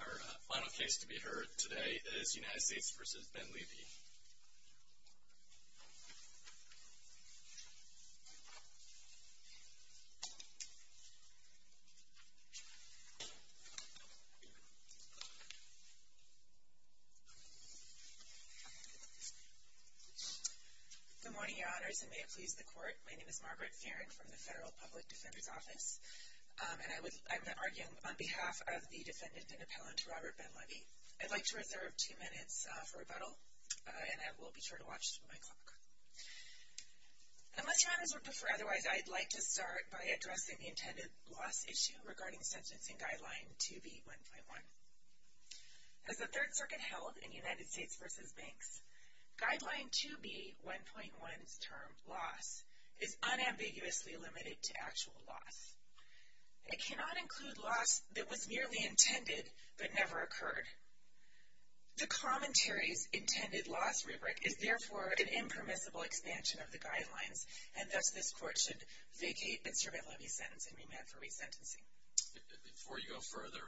Our final case to be heard today is United States v. Benlevi. Good morning, Your Honors, and may it please the Court, my name is Margaret Fearon from the Federal Public Defender's Office, and I'm going to argue on behalf of the defendant and appellant, Robert Benlevi. I'd like to reserve two minutes for rebuttal, and I will be sure to watch my clock. Unless Your Honors would prefer otherwise, I'd like to start by addressing the intended loss issue regarding Sentencing Guideline 2B1.1. As the Third Circuit held in United States v. Banks, Guideline 2B1.1's term, loss, is unambiguously limited to actual loss. It cannot include loss that was merely intended but never occurred. The Commentary's intended loss rubric is, therefore, an impermissible expansion of the Guidelines, and thus this Court should vacate Mr. Benlevi's sentence and remand for resentencing. Before you go further,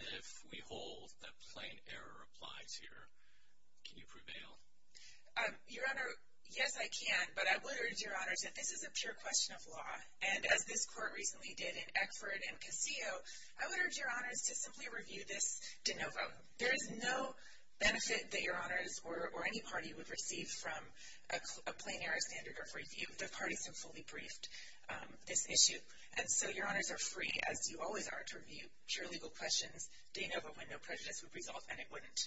if we hold that plain error applies here, can you prevail? Your Honor, yes I can, but I would urge Your Honors that this is a pure question of law, and as this Court recently did in Eckford and Casillo, I would urge Your Honors to simply review this de novo. There is no benefit that Your Honors or any party would receive from a plain error standard of review, the parties have fully briefed this issue, and so Your Honors are free, as you always are, to review pure legal questions de novo when no prejudice would result, and it wouldn't.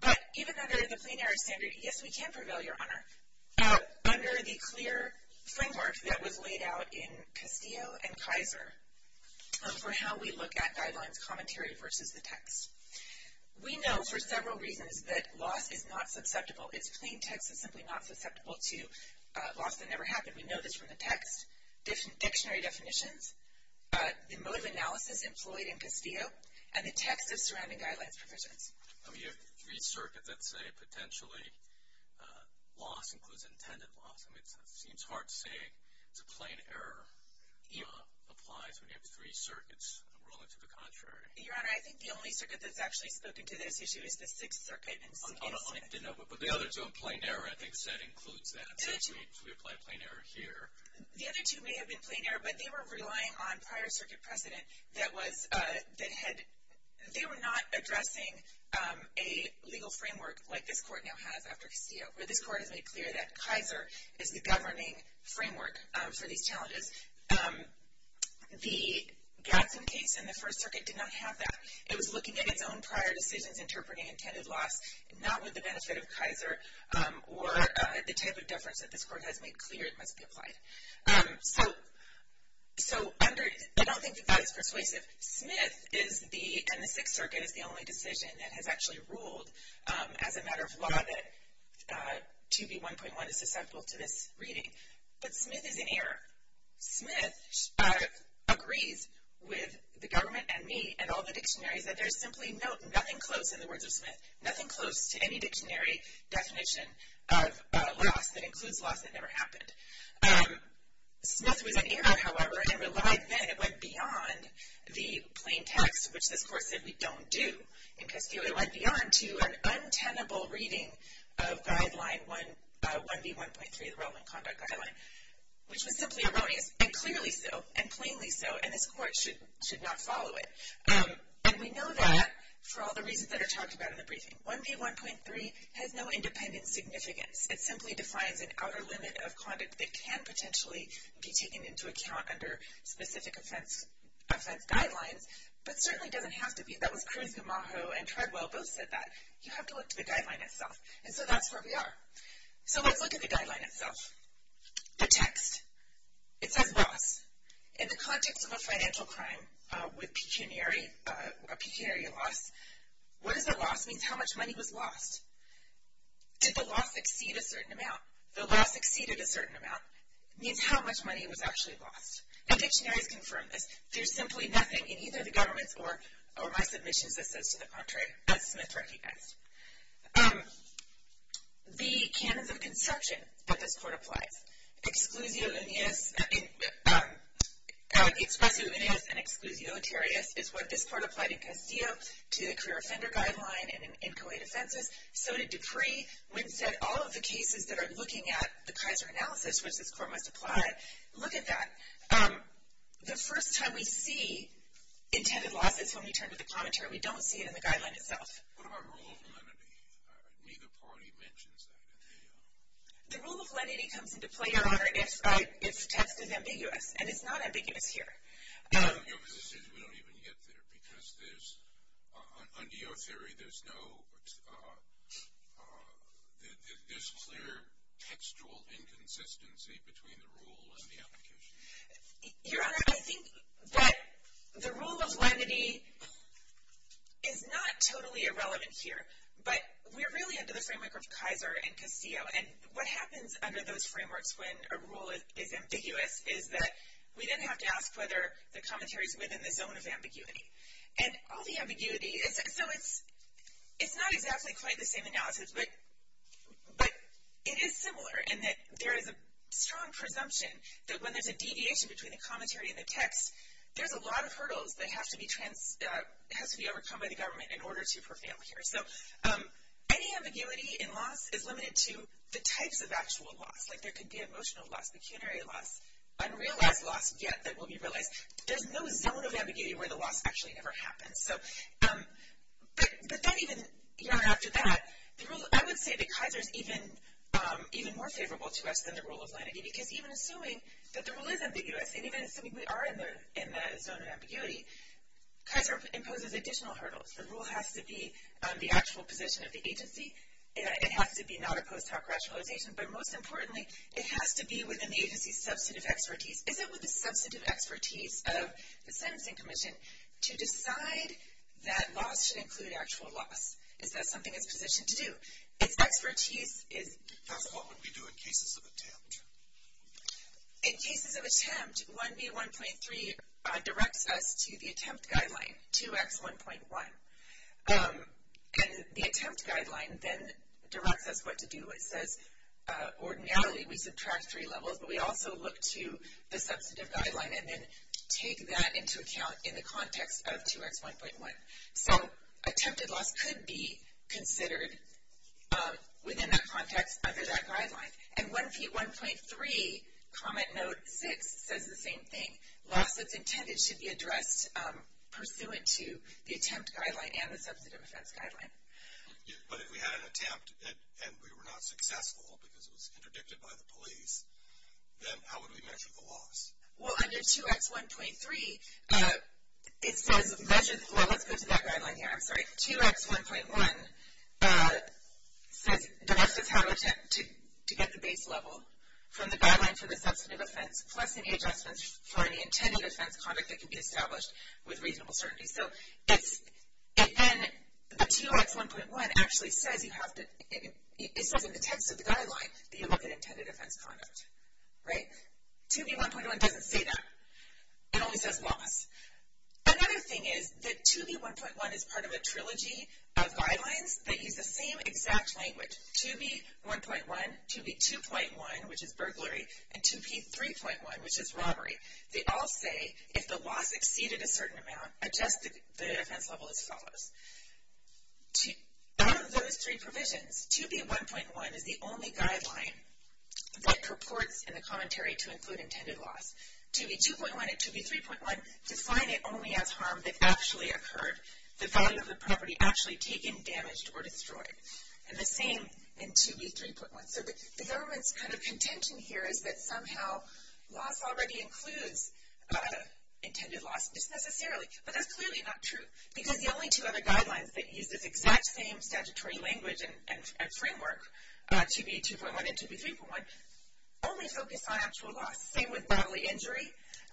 But even under the plain error standard, yes we can prevail, Your Honor. Under the clear framework that was laid out in Castillo and Kaiser for how we look at Guidelines Commentary versus the text, we know for several reasons that loss is not susceptible. It's plain text is simply not susceptible to loss that never happened. We know this from the text, dictionary definitions, the mode of analysis employed in Castillo, and the text of surrounding Guidelines provisions. I mean, you have three circuits that say potentially loss includes intended loss. I mean, it seems hard to say it's a plain error applies when you have three circuits ruling to the contrary. Your Honor, I think the only circuit that's actually spoken to this issue is the Sixth Circuit. I don't like to know, but the other two in plain error, I think said includes that. So we apply plain error here. The other two may have been plain error, but they were relying on prior circuit precedent that was, that had, they were not addressing a legal framework like this court now has after Castillo, where this court has made clear that Kaiser is the governing framework for these challenges. The Gadsden case in the First Circuit did not have that. It was looking at its own prior decisions interpreting intended loss, not with the benefit of Kaiser, or the type of deference that this court has made clear must be applied. So under, I don't think that that is persuasive. Smith is the, and the Sixth Circuit is the only decision that has actually ruled as a matter of law that 2B1.1 is susceptible to this reading. But Smith is in error. Smith agrees with the government and me and all the dictionaries that there's simply nothing close in the words of Smith, nothing close to any dictionary definition of loss that includes loss that never happened. Smith was in error, however, and relied then, it went beyond the plain text, which this court said we don't do in Castillo. It went beyond to an untenable reading of guideline 1B1.3, the relevant conduct guideline, which was simply erroneous, and clearly so, and plainly so, and this court should not follow it. And we know that for all the reasons that are talked about in the briefing. 1B1.3 has no independent significance. It simply defines an outer limit of conduct that can potentially be taken into account under specific offense guidelines, but certainly doesn't have to be. That was Cruz-Gamajo and Treadwell both said that. You have to look to the guideline itself, and so that's where we are. So let's look at the guideline itself. The text, it says loss. In the context of a financial crime with pecuniary, a pecuniary loss, what does a loss mean, how much money was lost? Did the loss exceed a certain amount? The loss exceeded a certain amount means how much money was actually lost. And dictionaries confirm this. There's simply nothing in either the government's or my submissions that says to the contrary that Smith recognized. The canons of consumption that this court applies, exclusio uneus, expressio uneus and exclusio notarius is what this court applied in Castillo to the career offender guideline and in Kauai defenses. So did Dupree. Wynn said all of the cases that are looking at the Kaiser analysis, which this court must apply, look at that. The first time we see intended loss is when we turn to the commentary. We don't see it in the guideline itself. What about rule of lenity? Neither party mentions that in the. The rule of lenity comes into play, Your Honor, and it's text is ambiguous, and it's not ambiguous here. It's not ambiguous as soon as we don't even get there because there's, under your theory, there's no, there's clear textual inconsistency between the rule and the application. Your Honor, I think that the rule of lenity is not totally irrelevant here, but we're really under the framework of Kaiser and Castillo. And what happens under those frameworks when a rule is ambiguous is that we then have to ask whether the commentary is within the zone of ambiguity. And all the ambiguity is, so it's not exactly quite the same analysis, but it is similar in that there is a strong presumption that when there's a deviation between the commentary and the text, there's a lot of hurdles that has to be trans, has to be overcome by the government in order to prevail here. So any ambiguity in loss is limited to the types of actual loss. Like there could be emotional loss, pecuniary loss, unrealized loss yet that will be realized. There's no zone of ambiguity where the loss actually never happens. So, but that even, you know, after that, the rule, I would say that Kaiser's even more favorable to us than the rule of lenity because even assuming that the rule is ambiguous, and even assuming we are in the zone of ambiguity, Kaiser imposes additional hurdles. The rule has to be the actual position of the agency. It has to be not a post hoc rationalization. But most importantly, it has to be within the agency's substantive expertise. Is it with the substantive expertise of the Sentencing Commission to decide that loss should include actual loss? Is that something it's positioned to do? Its expertise is. That's what we do in cases of attempt. In cases of attempt, 1B1.3 directs us to the attempt guideline, 2X1.1. And the attempt guideline then directs us what to do. It says ordinarily we subtract three levels, but we also look to the substantive guideline and then take that into account in the context of 2X1.1. So, attempted loss could be considered within that context under that guideline. And 1B1.3 comment note 6 says the same thing. Loss that's intended should be addressed pursuant to the attempt guideline and the substantive offense guideline. But if we had an attempt and we were not successful because it was interdicted by the police, then how would we measure the loss? Well, under 2X1.3 it says measure, well let's go to that guideline here, I'm sorry. 2X1.1 says directs us how to attempt to get the base level from the guideline for the substantive offense plus any adjustments for any intended offense conduct that can be established with reasonable certainty. So, it's, and 2X1.1 actually says you have to, it says in the text of the guideline that you look at intended offense conduct, right? 2B1.1 doesn't say that. It only says loss. Another thing is that 2B1.1 is part of a trilogy of guidelines that use the same exact language. 2B1.1, 2B2.1, which is burglary, and 2B3.1, which is robbery. They all say if the loss exceeded a certain amount, adjust the offense level as follows. Out of those three provisions, 2B1.1 is the only guideline that purports in the commentary to include intended loss. 2B2.1 and 2B3.1 define it only as harm that actually occurred, the value of the property actually taken, damaged, or destroyed. And the same in 2B3.1. So, the government's kind of contention here is that somehow loss already includes intended loss, just necessarily, but that's clearly not true because the only two other guidelines that use this exact same statutory language and framework, 2B2.1 and 2B3.1, only focus on actual loss, same with bodily injury.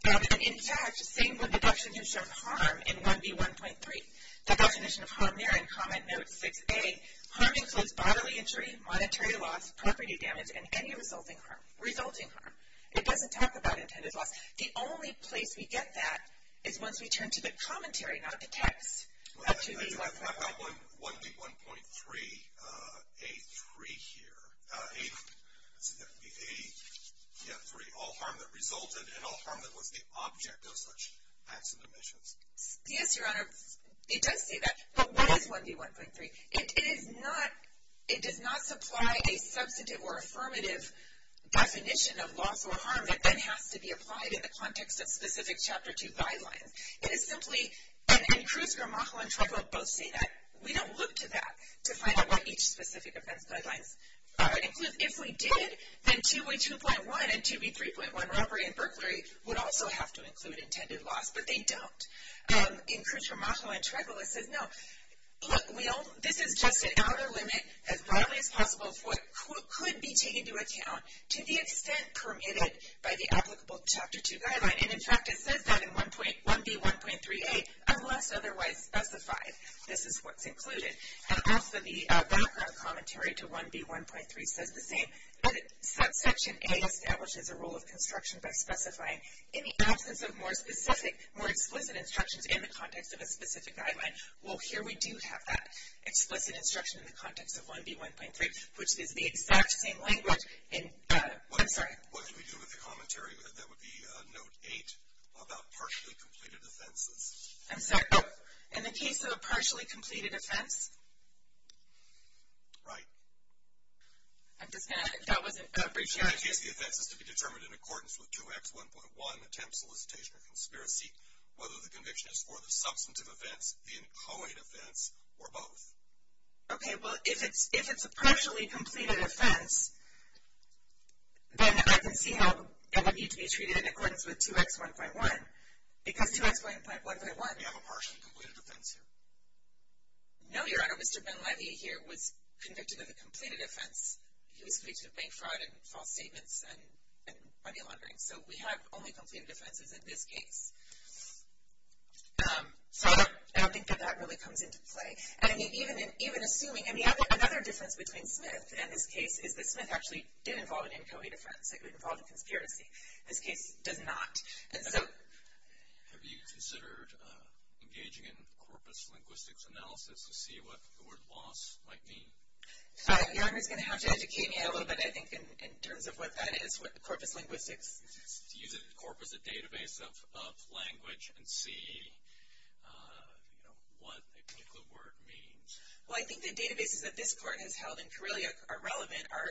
In fact, same with the definition of harm in 1B1.3. The definition of harm there in comment note 6A, harm includes bodily injury, monetary loss, property damage, and any resulting harm. It doesn't talk about intended loss. The only place we get that is once we turn to the commentary, not the text of 2B1.3. I've got 1B1.3A3 here, let's see, that would be A3, all harm that resulted and all harm that was the object of such acts and omissions. Yes, Your Honor, it does say that, but what is 1B1.3? It is not, it does not supply a substantive or affirmative definition of loss or harm that then has to be applied in the context of specific Chapter 2 guidelines. It is simply, and Cruz-Gramajo and Tregela both say that, we don't look to that to find out what each specific offense guidelines include. If we did, then 2B2.1 and 2B3.1, robbery and burglary, would also have to include intended loss, but they don't. And Cruz-Gramajo and Tregela says, no, look, we all, this is just an outer limit as broadly as possible for what could be taken into account to the extent permitted by the applicable Chapter 2 guideline. And in fact, it says that in 1B1.3A, unless otherwise specified, this is what's included. And also, the background commentary to 1B1.3 says the same, that Section A establishes a rule of construction by specifying in the absence of more specific, more explicit instructions in the context of a specific guideline. Well, here we do have that explicit instruction in the context of 1B1.3, which is the exact same language in, I'm sorry. What do we do with the commentary, that would be Note 8, about partially completed offenses? I'm sorry, in the case of a partially completed offense? Right. I'm just going to, that wasn't a brief answer. In that case, the offense is to be determined in accordance with 2X1.1 attempt, solicitation, or conspiracy. Whether the conviction is for the substantive offense, the included offense, or both. Okay, well, if it's a partially completed offense, then I can see how it would need to be treated in accordance with 2X1.1. Because 2X1.1.1. Do you have a partially completed offense here? No, Your Honor. Mr. Ben-Levy here was convicted of a completed offense. He was convicted of bank fraud and false statements and money laundering. So, we have only completed offenses in this case. So, I don't think that that really comes into play. And, I mean, even assuming, I mean, another difference between Smith and this case is that Smith actually did involve an NCOE defense. It involved a conspiracy. This case does not. And so. Have you considered engaging in corpus linguistics analysis to see what the word loss might mean? Your Honor's going to have to educate me a little bit, I think, in terms of what that is, what corpus linguistics. Use it as a corpus, a database of language, and see, you know, what a particular word means. Well, I think the databases that this court has held in Corellia are relevant, are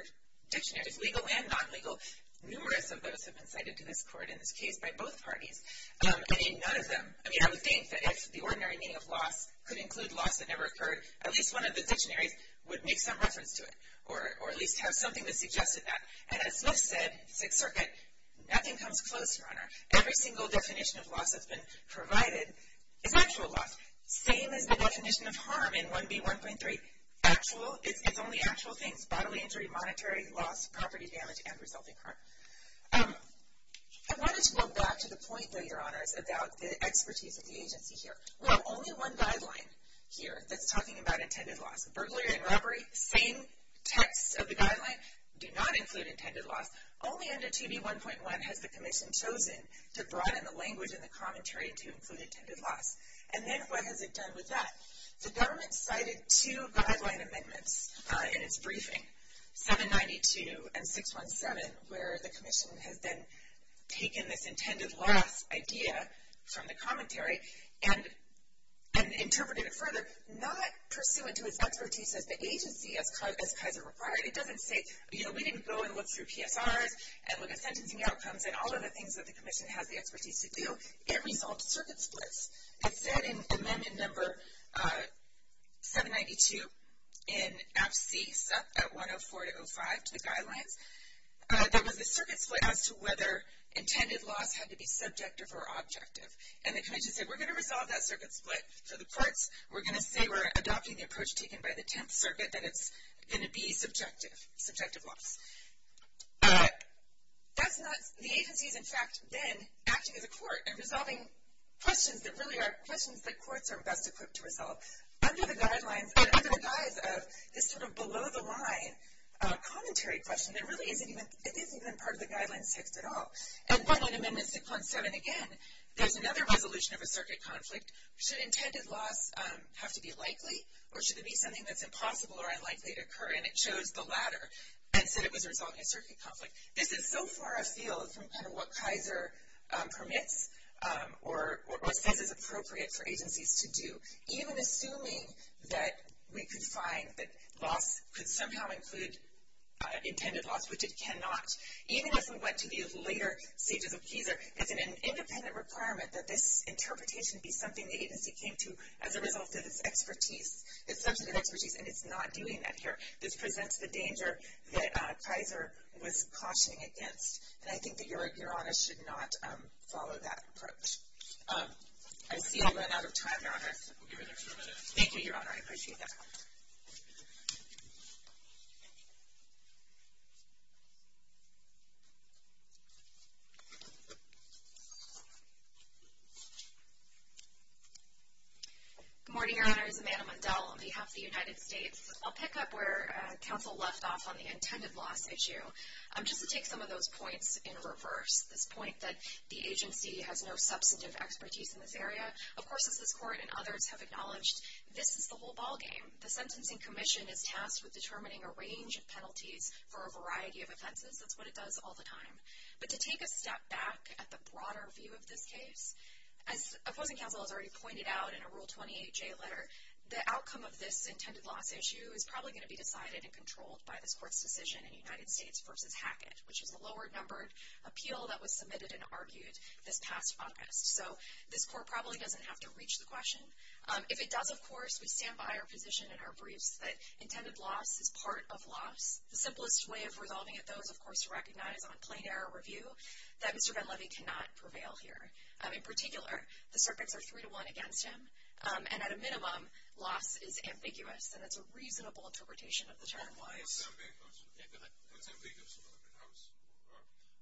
dictionaries, legal and non-legal. Numerous of those have been cited to this court in this case by both parties. And, in none of them, I mean, I would think that if the ordinary meaning of loss could include loss that never occurred, at least one of the dictionaries would make some reference to it. Or, at least have something that suggested that. And, as Smith said, Sixth Circuit, nothing comes close, Your Honor. Every single definition of loss that's been provided is actual loss. Same as the definition of harm in 1B1.3. Actual, it's only actual things. Bodily injury, monetary loss, property damage, and resulting harm. I wanted to go back to the point, though, Your Honors, about the expertise of the agency here. Well, only one guideline here that's talking about intended loss. Burglary and robbery, same text of the guideline, do not include intended loss. Only under 2B1.1 has the commission chosen to broaden the language in the commentary to include intended loss. And then, what has it done with that? The government cited two guideline amendments in its briefing, 792 and 617, and interpreted it further, not pursuant to its expertise as the agency, as Kaiser required. It doesn't say, you know, we didn't go and look through PSRs and look at sentencing outcomes and all of the things that the commission has the expertise to do. It resolved circuit splits. It said in amendment number 792 in absece at 104 to 05 to the guidelines, there was a circuit split as to whether intended loss had to be subjective or objective. And the commission said, we're going to resolve that circuit split for the courts. We're going to say we're adopting the approach taken by the 10th circuit that it's going to be subjective, subjective loss. That's not, the agency is, in fact, then acting as a court and resolving questions that really are questions that courts are best equipped to resolve. Under the guidelines, under the guise of this sort of below the line commentary question, it really isn't even, it isn't even part of the guidelines text at all. And then in amendment 6.7, again, there's another resolution of a circuit conflict. Should intended loss have to be likely or should it be something that's impossible or unlikely to occur, and it chose the latter and said it was resolving a circuit conflict. This is so far afield from kind of what Kaiser permits or says is appropriate for agencies to do, even assuming that we could find that loss could somehow include intended loss, which it cannot, even as we went to the later stages of Kaiser. It's an independent requirement that this interpretation be something the agency came to as a result of its expertise, its substantive expertise, and it's not doing that here. This presents the danger that Kaiser was cautioning against. And I think that your honor should not follow that approach. We'll give you an extra minute. Thank you, your honor. I appreciate that. Good morning, your honors. Amanda Mundell on behalf of the United States. I'll pick up where counsel left off on the intended loss issue. Just to take some of those points in reverse. As this court and others have acknowledged, this is the whole ballgame. The Sentencing Commission is tasked with determining a range of penalties for a variety of offenses. That's what it does all the time. But to take a step back at the broader view of this case, as opposing counsel has already pointed out in a Rule 28J letter, the outcome of this intended loss issue is probably going to be decided and controlled by this court's decision in United States v. Hackett, which is a lower-numbered appeal that was submitted and argued this past August. So this court probably doesn't have to reach the question. If it does, of course, we stand by our position in our briefs that intended loss is part of loss. The simplest way of resolving it, though, is, of course, to recognize on plain error review that Mr. Van Levy cannot prevail here. In particular, the circuits are three to one against him. And at a minimum, loss is ambiguous. And it's a reasonable interpretation of the term. Yeah, go ahead. What's ambiguous about it?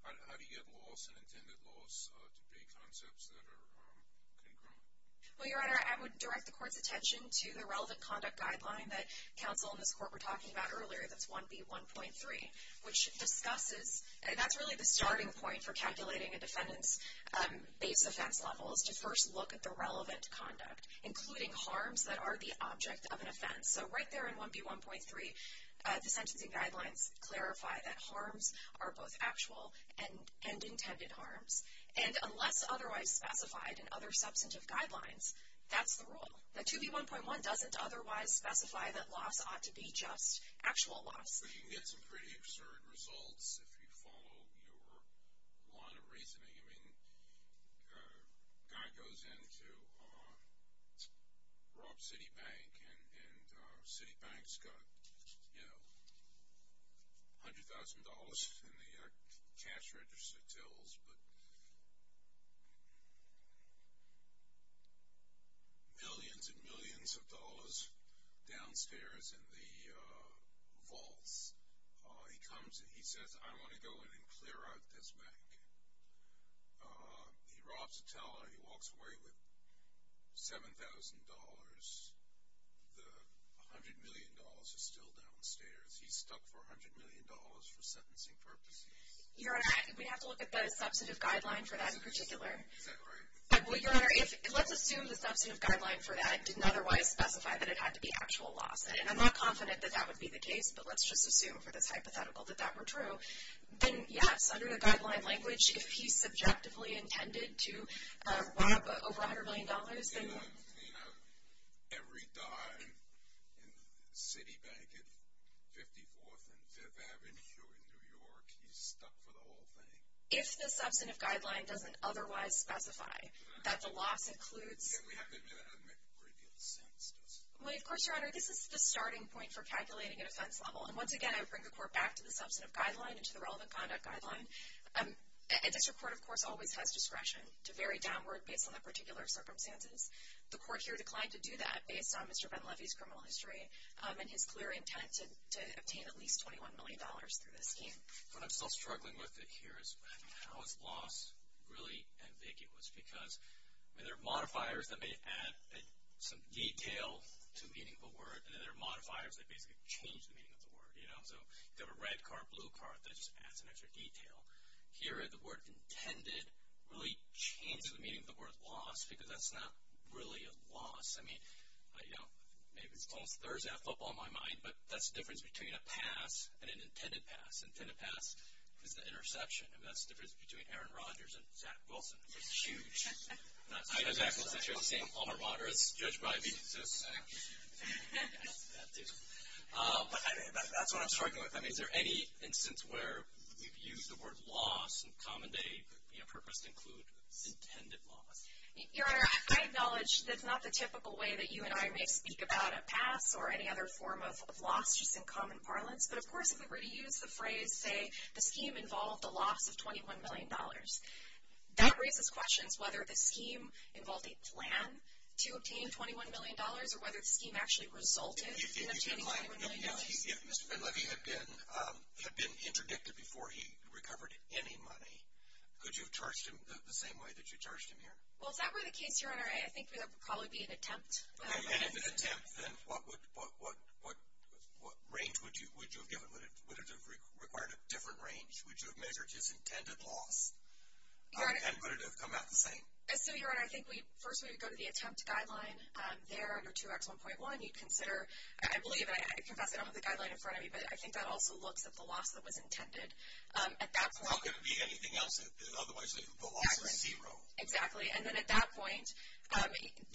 How do you get loss, an intended loss, to be concepts that are congruent? Well, Your Honor, I would direct the court's attention to the relevant conduct guideline that counsel and this court were talking about earlier. That's 1B1.3, which discusses, and that's really the starting point for calculating a defendant's base offense level, is to first look at the relevant conduct, including harms that are the object of an offense. So right there in 1B1.3, the sentencing guidelines clarify that harms are both actual and intended harms. And unless otherwise specified in other substantive guidelines, that's the rule. The 2B1.1 doesn't otherwise specify that loss ought to be just actual loss. But you can get some pretty absurd results if you follow your line of reasoning. I mean, a guy goes into Rob City Bank, and City Bank's got, you know, $100,000 in the cash register tills, but millions and millions of dollars downstairs in the vaults. He comes, he says, I want to go in and clear out this bank. He robs a teller. He walks away with $7,000. The $100 million is still downstairs. He's stuck for $100 million for sentencing purposes. Your Honor, we have to look at the substantive guideline for that in particular. Is that right? Well, Your Honor, let's assume the substantive guideline for that didn't otherwise specify that it had to be actual loss. And I'm not confident that that would be the case, but let's just assume for this hypothetical that that were true. Then, yes, under the guideline language, if he subjectively intended to rob over $100 million, then. Every dime in City Bank at 54th and Fifth Avenue here in New York, he's stuck for the whole thing. If the substantive guideline doesn't otherwise specify that the loss includes. Yeah, we have to admit that doesn't make a great deal of sense, does it? Well, of course, Your Honor, this is the starting point for calculating an offense level. And once again, I would bring the Court back to the substantive guideline and to the relevant conduct guideline. And this Court, of course, always has discretion to vary downward based on the particular circumstances. The Court here declined to do that based on Mr. Ben Levy's criminal history and his clear intent to obtain at least $21 million through this scheme. What I'm still struggling with here is how is loss really ambiguous? Because there are modifiers that may add some detail to a meaningful word. And then there are modifiers that basically change the meaning of the word, you know. So you have a red card, blue card that just adds an extra detail. Here, the word intended really changes the meaning of the word loss because that's not really a loss. I mean, you know, maybe it's almost Thursday football in my mind. But that's the difference between a pass and an intended pass. Intended pass is the interception. And that's the difference between Aaron Rodgers and Zach Wilson. It's huge. Not exactly the same. Aaron Rodgers, judged by me, says Zach Wilson. That too. But that's what I'm struggling with. I mean, is there any instance where we've used the word loss in common day, you know, purpose to include intended loss? Your Honor, I acknowledge that's not the typical way that you and I may speak about a pass or any other form of loss just in common parlance. But, of course, if we were to use the phrase, say, the scheme involved the loss of $21 million, that raises questions whether the scheme involved a plan to obtain $21 million or whether the scheme actually resulted in obtaining $21 million. If Mr. Ben-Levy had been interdicted before he recovered any money, could you have charged him the same way that you charged him here? Well, if that were the case, Your Honor, I think that would probably be an attempt. And if it's an attempt, then what range would you have given? Would it have required a different range? Would you have measured his intended loss? And would it have come out the same? So, Your Honor, I think first we would go to the attempt guideline there under 2X1.1. You'd consider, I believe, and I confess I don't have the guideline in front of me, but I think that also looks at the loss that was intended. At that point. How could it be anything else? Otherwise, the loss is zero. Exactly. And then at that point,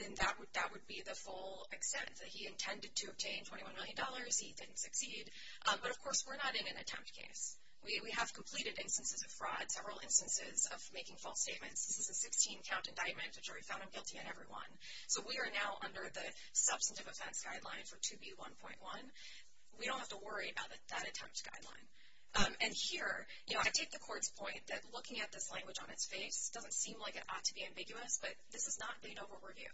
then that would be the full extent that he intended to obtain $21 million, he didn't succeed. But, of course, we're not in an attempt case. We have completed instances of fraud, several instances of making false statements. This is a 16-count indictment, which we found him guilty in every one. So, we are now under the substantive offense guideline for 2B1.1. We don't have to worry about that attempt guideline. And here, you know, I take the court's point that looking at this language on its face doesn't seem like it ought to be ambiguous, but this is not Banova review.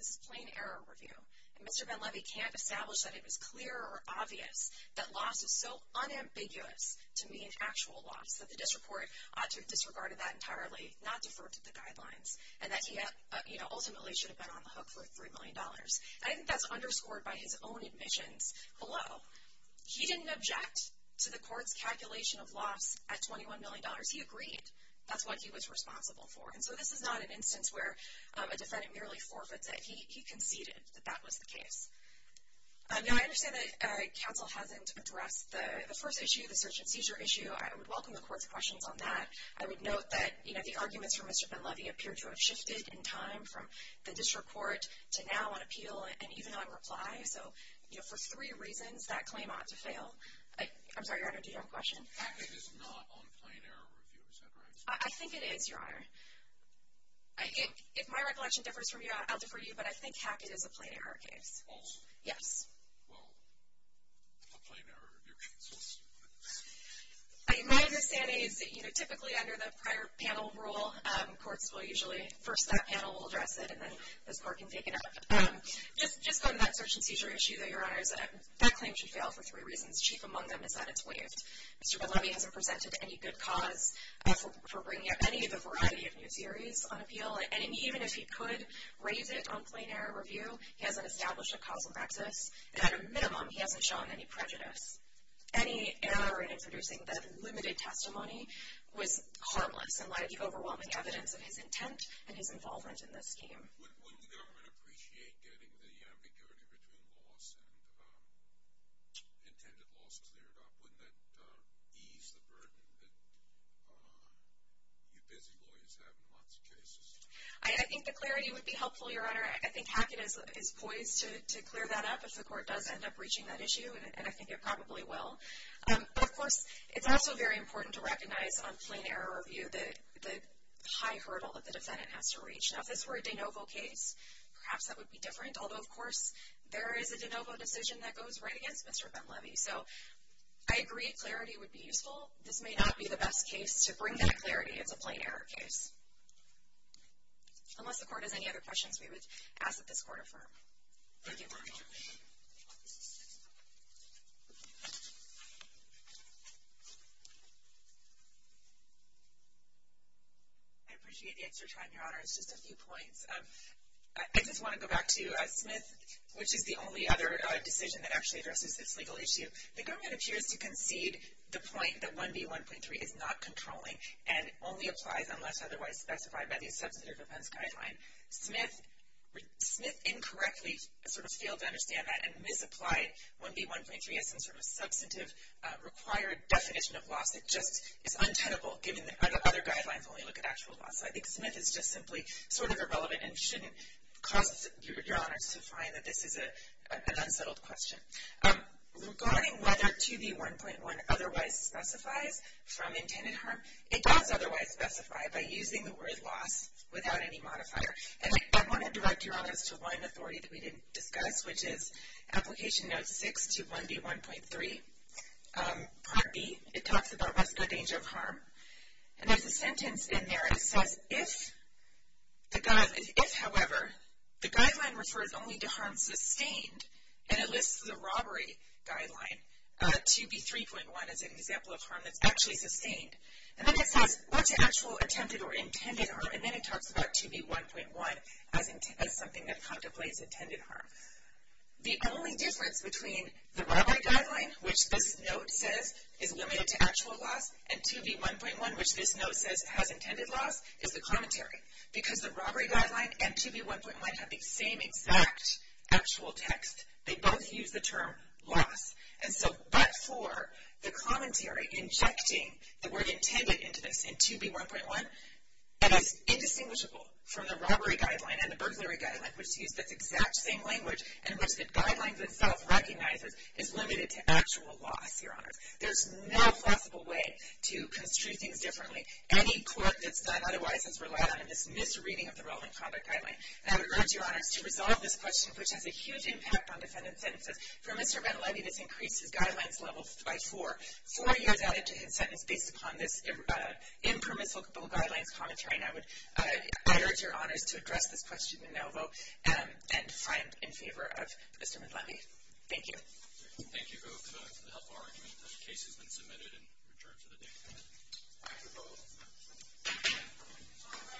This is plain error review. And Mr. Benlevy can't establish that it was clear or obvious that loss is so unambiguous to mean actual loss, that the district court ought to have disregarded that entirely, not deferred to the guidelines, and that he had, you know, ultimately should have been on the hook for $3 million. I think that's underscored by his own admissions below. He didn't object to the court's calculation of loss at $21 million. He agreed. That's what he was responsible for. And so, this is not an instance where a defendant merely forfeits it. He conceded that that was the case. Now, I understand that counsel hasn't addressed the first issue, the search and seizure issue. I would welcome the court's questions on that. I would note that, you know, the arguments from Mr. Benlevy appear to have shifted in time from the district court to now on appeal and even on reply. So, you know, for three reasons, that claim ought to fail. I'm sorry, Your Honor, do you have a question? Hackett is not on plain error review, is that right? I think it is, Your Honor. I think, if my recollection differs from yours, I'll defer to you, but I think Hackett is a plain error case. Also? Yes. Well, a plain error review case also. My understanding is that, you know, typically under the prior panel rule, courts will usually, first that panel will address it, and then this court can take it up. Just on that search and seizure issue, though, Your Honor, is that that claim should fail for three reasons. Chief among them is that it's waived. Mr. Benlevy hasn't presented any good cause for bringing up any of the variety of new theories on appeal. And even if he could raise it on plain error review, he hasn't established a causal nexus. And at a minimum, he hasn't shown any prejudice. Any error in introducing the limited testimony was harmless and laid the overwhelming evidence of his intent and his involvement in this scheme. Wouldn't the government appreciate getting the ambiguity between loss and intended loss cleared up? Wouldn't that ease the burden that you busy lawyers have in lots of cases? I think the clarity would be helpful, Your Honor. I think Hackett is poised to clear that up if the court does end up reaching that issue. And I think it probably will. But, of course, it's also very important to recognize on plain error review the high hurdle that the defendant has to reach. Now, if this were a de novo case, perhaps that would be different. Although, of course, there is a de novo decision that goes right against Mr. Benlevy. So, I agree clarity would be useful. This may not be the best case to bring that clarity as a plain error case. Unless the court has any other questions, we would ask that this court affirm. Thank you. I appreciate the extra time, Your Honor. It's just a few points. I just want to go back to Smith, which is the only other decision that actually addresses this legal issue. The government appears to concede the point that 1B1.3 is not controlling and only applies unless otherwise specified by the Substantive Offense Guideline. Smith incorrectly sort of failed to understand that and misapplied 1B1.3 as some sort of substantive required definition of loss. It just is untenable given that other guidelines only look at actual loss. So, I think Smith is just simply sort of irrelevant and shouldn't cause Your Honors to find that this is an unsettled question. Regarding whether 2B1.1 otherwise specifies from intended harm, it does otherwise specify by using the word loss without any modifier. And I want to direct Your Honors to one authority that we didn't discuss, which is Application Note 6 to 1B1.3, Part B. It talks about rescue danger of harm. And there's a sentence in there that says, if, however, the guideline refers only to harm sustained, and it lists the robbery guideline, 2B3.1 as an example of harm that's actually sustained. And then it says, what's actual attempted or intended harm? And then it talks about 2B1.1 as something that contemplates intended harm. The only difference between the robbery guideline, which this note says is limited to actual loss, and 2B1.1, which this note says has intended loss, is the commentary. Because the robbery guideline and 2B1.1 have the same exact actual text, they both use the term loss. And so, but for the commentary injecting the word intended into this in 2B1.1, it is indistinguishable from the robbery guideline and the burglary guideline, which use this exact same language in which the guideline itself recognizes is limited to actual loss, Your Honors. There's no plausible way to construe things differently. Any court that's done otherwise has relied on this misreading of the relevant conduct guideline. And I would urge Your Honors to resolve this question, which has a huge impact on defendant sentences. For Mr. Mendeleevy, this increased his guidelines level by four. Four years added to his sentence based upon this impermissible guidelines commentary. And I would urge Your Honors to address this question and now vote and find in favor of Mr. Mendeleevy. Thank you. Thank you both for the helpful argument. The case has been submitted and returned to the dais. Thank you both.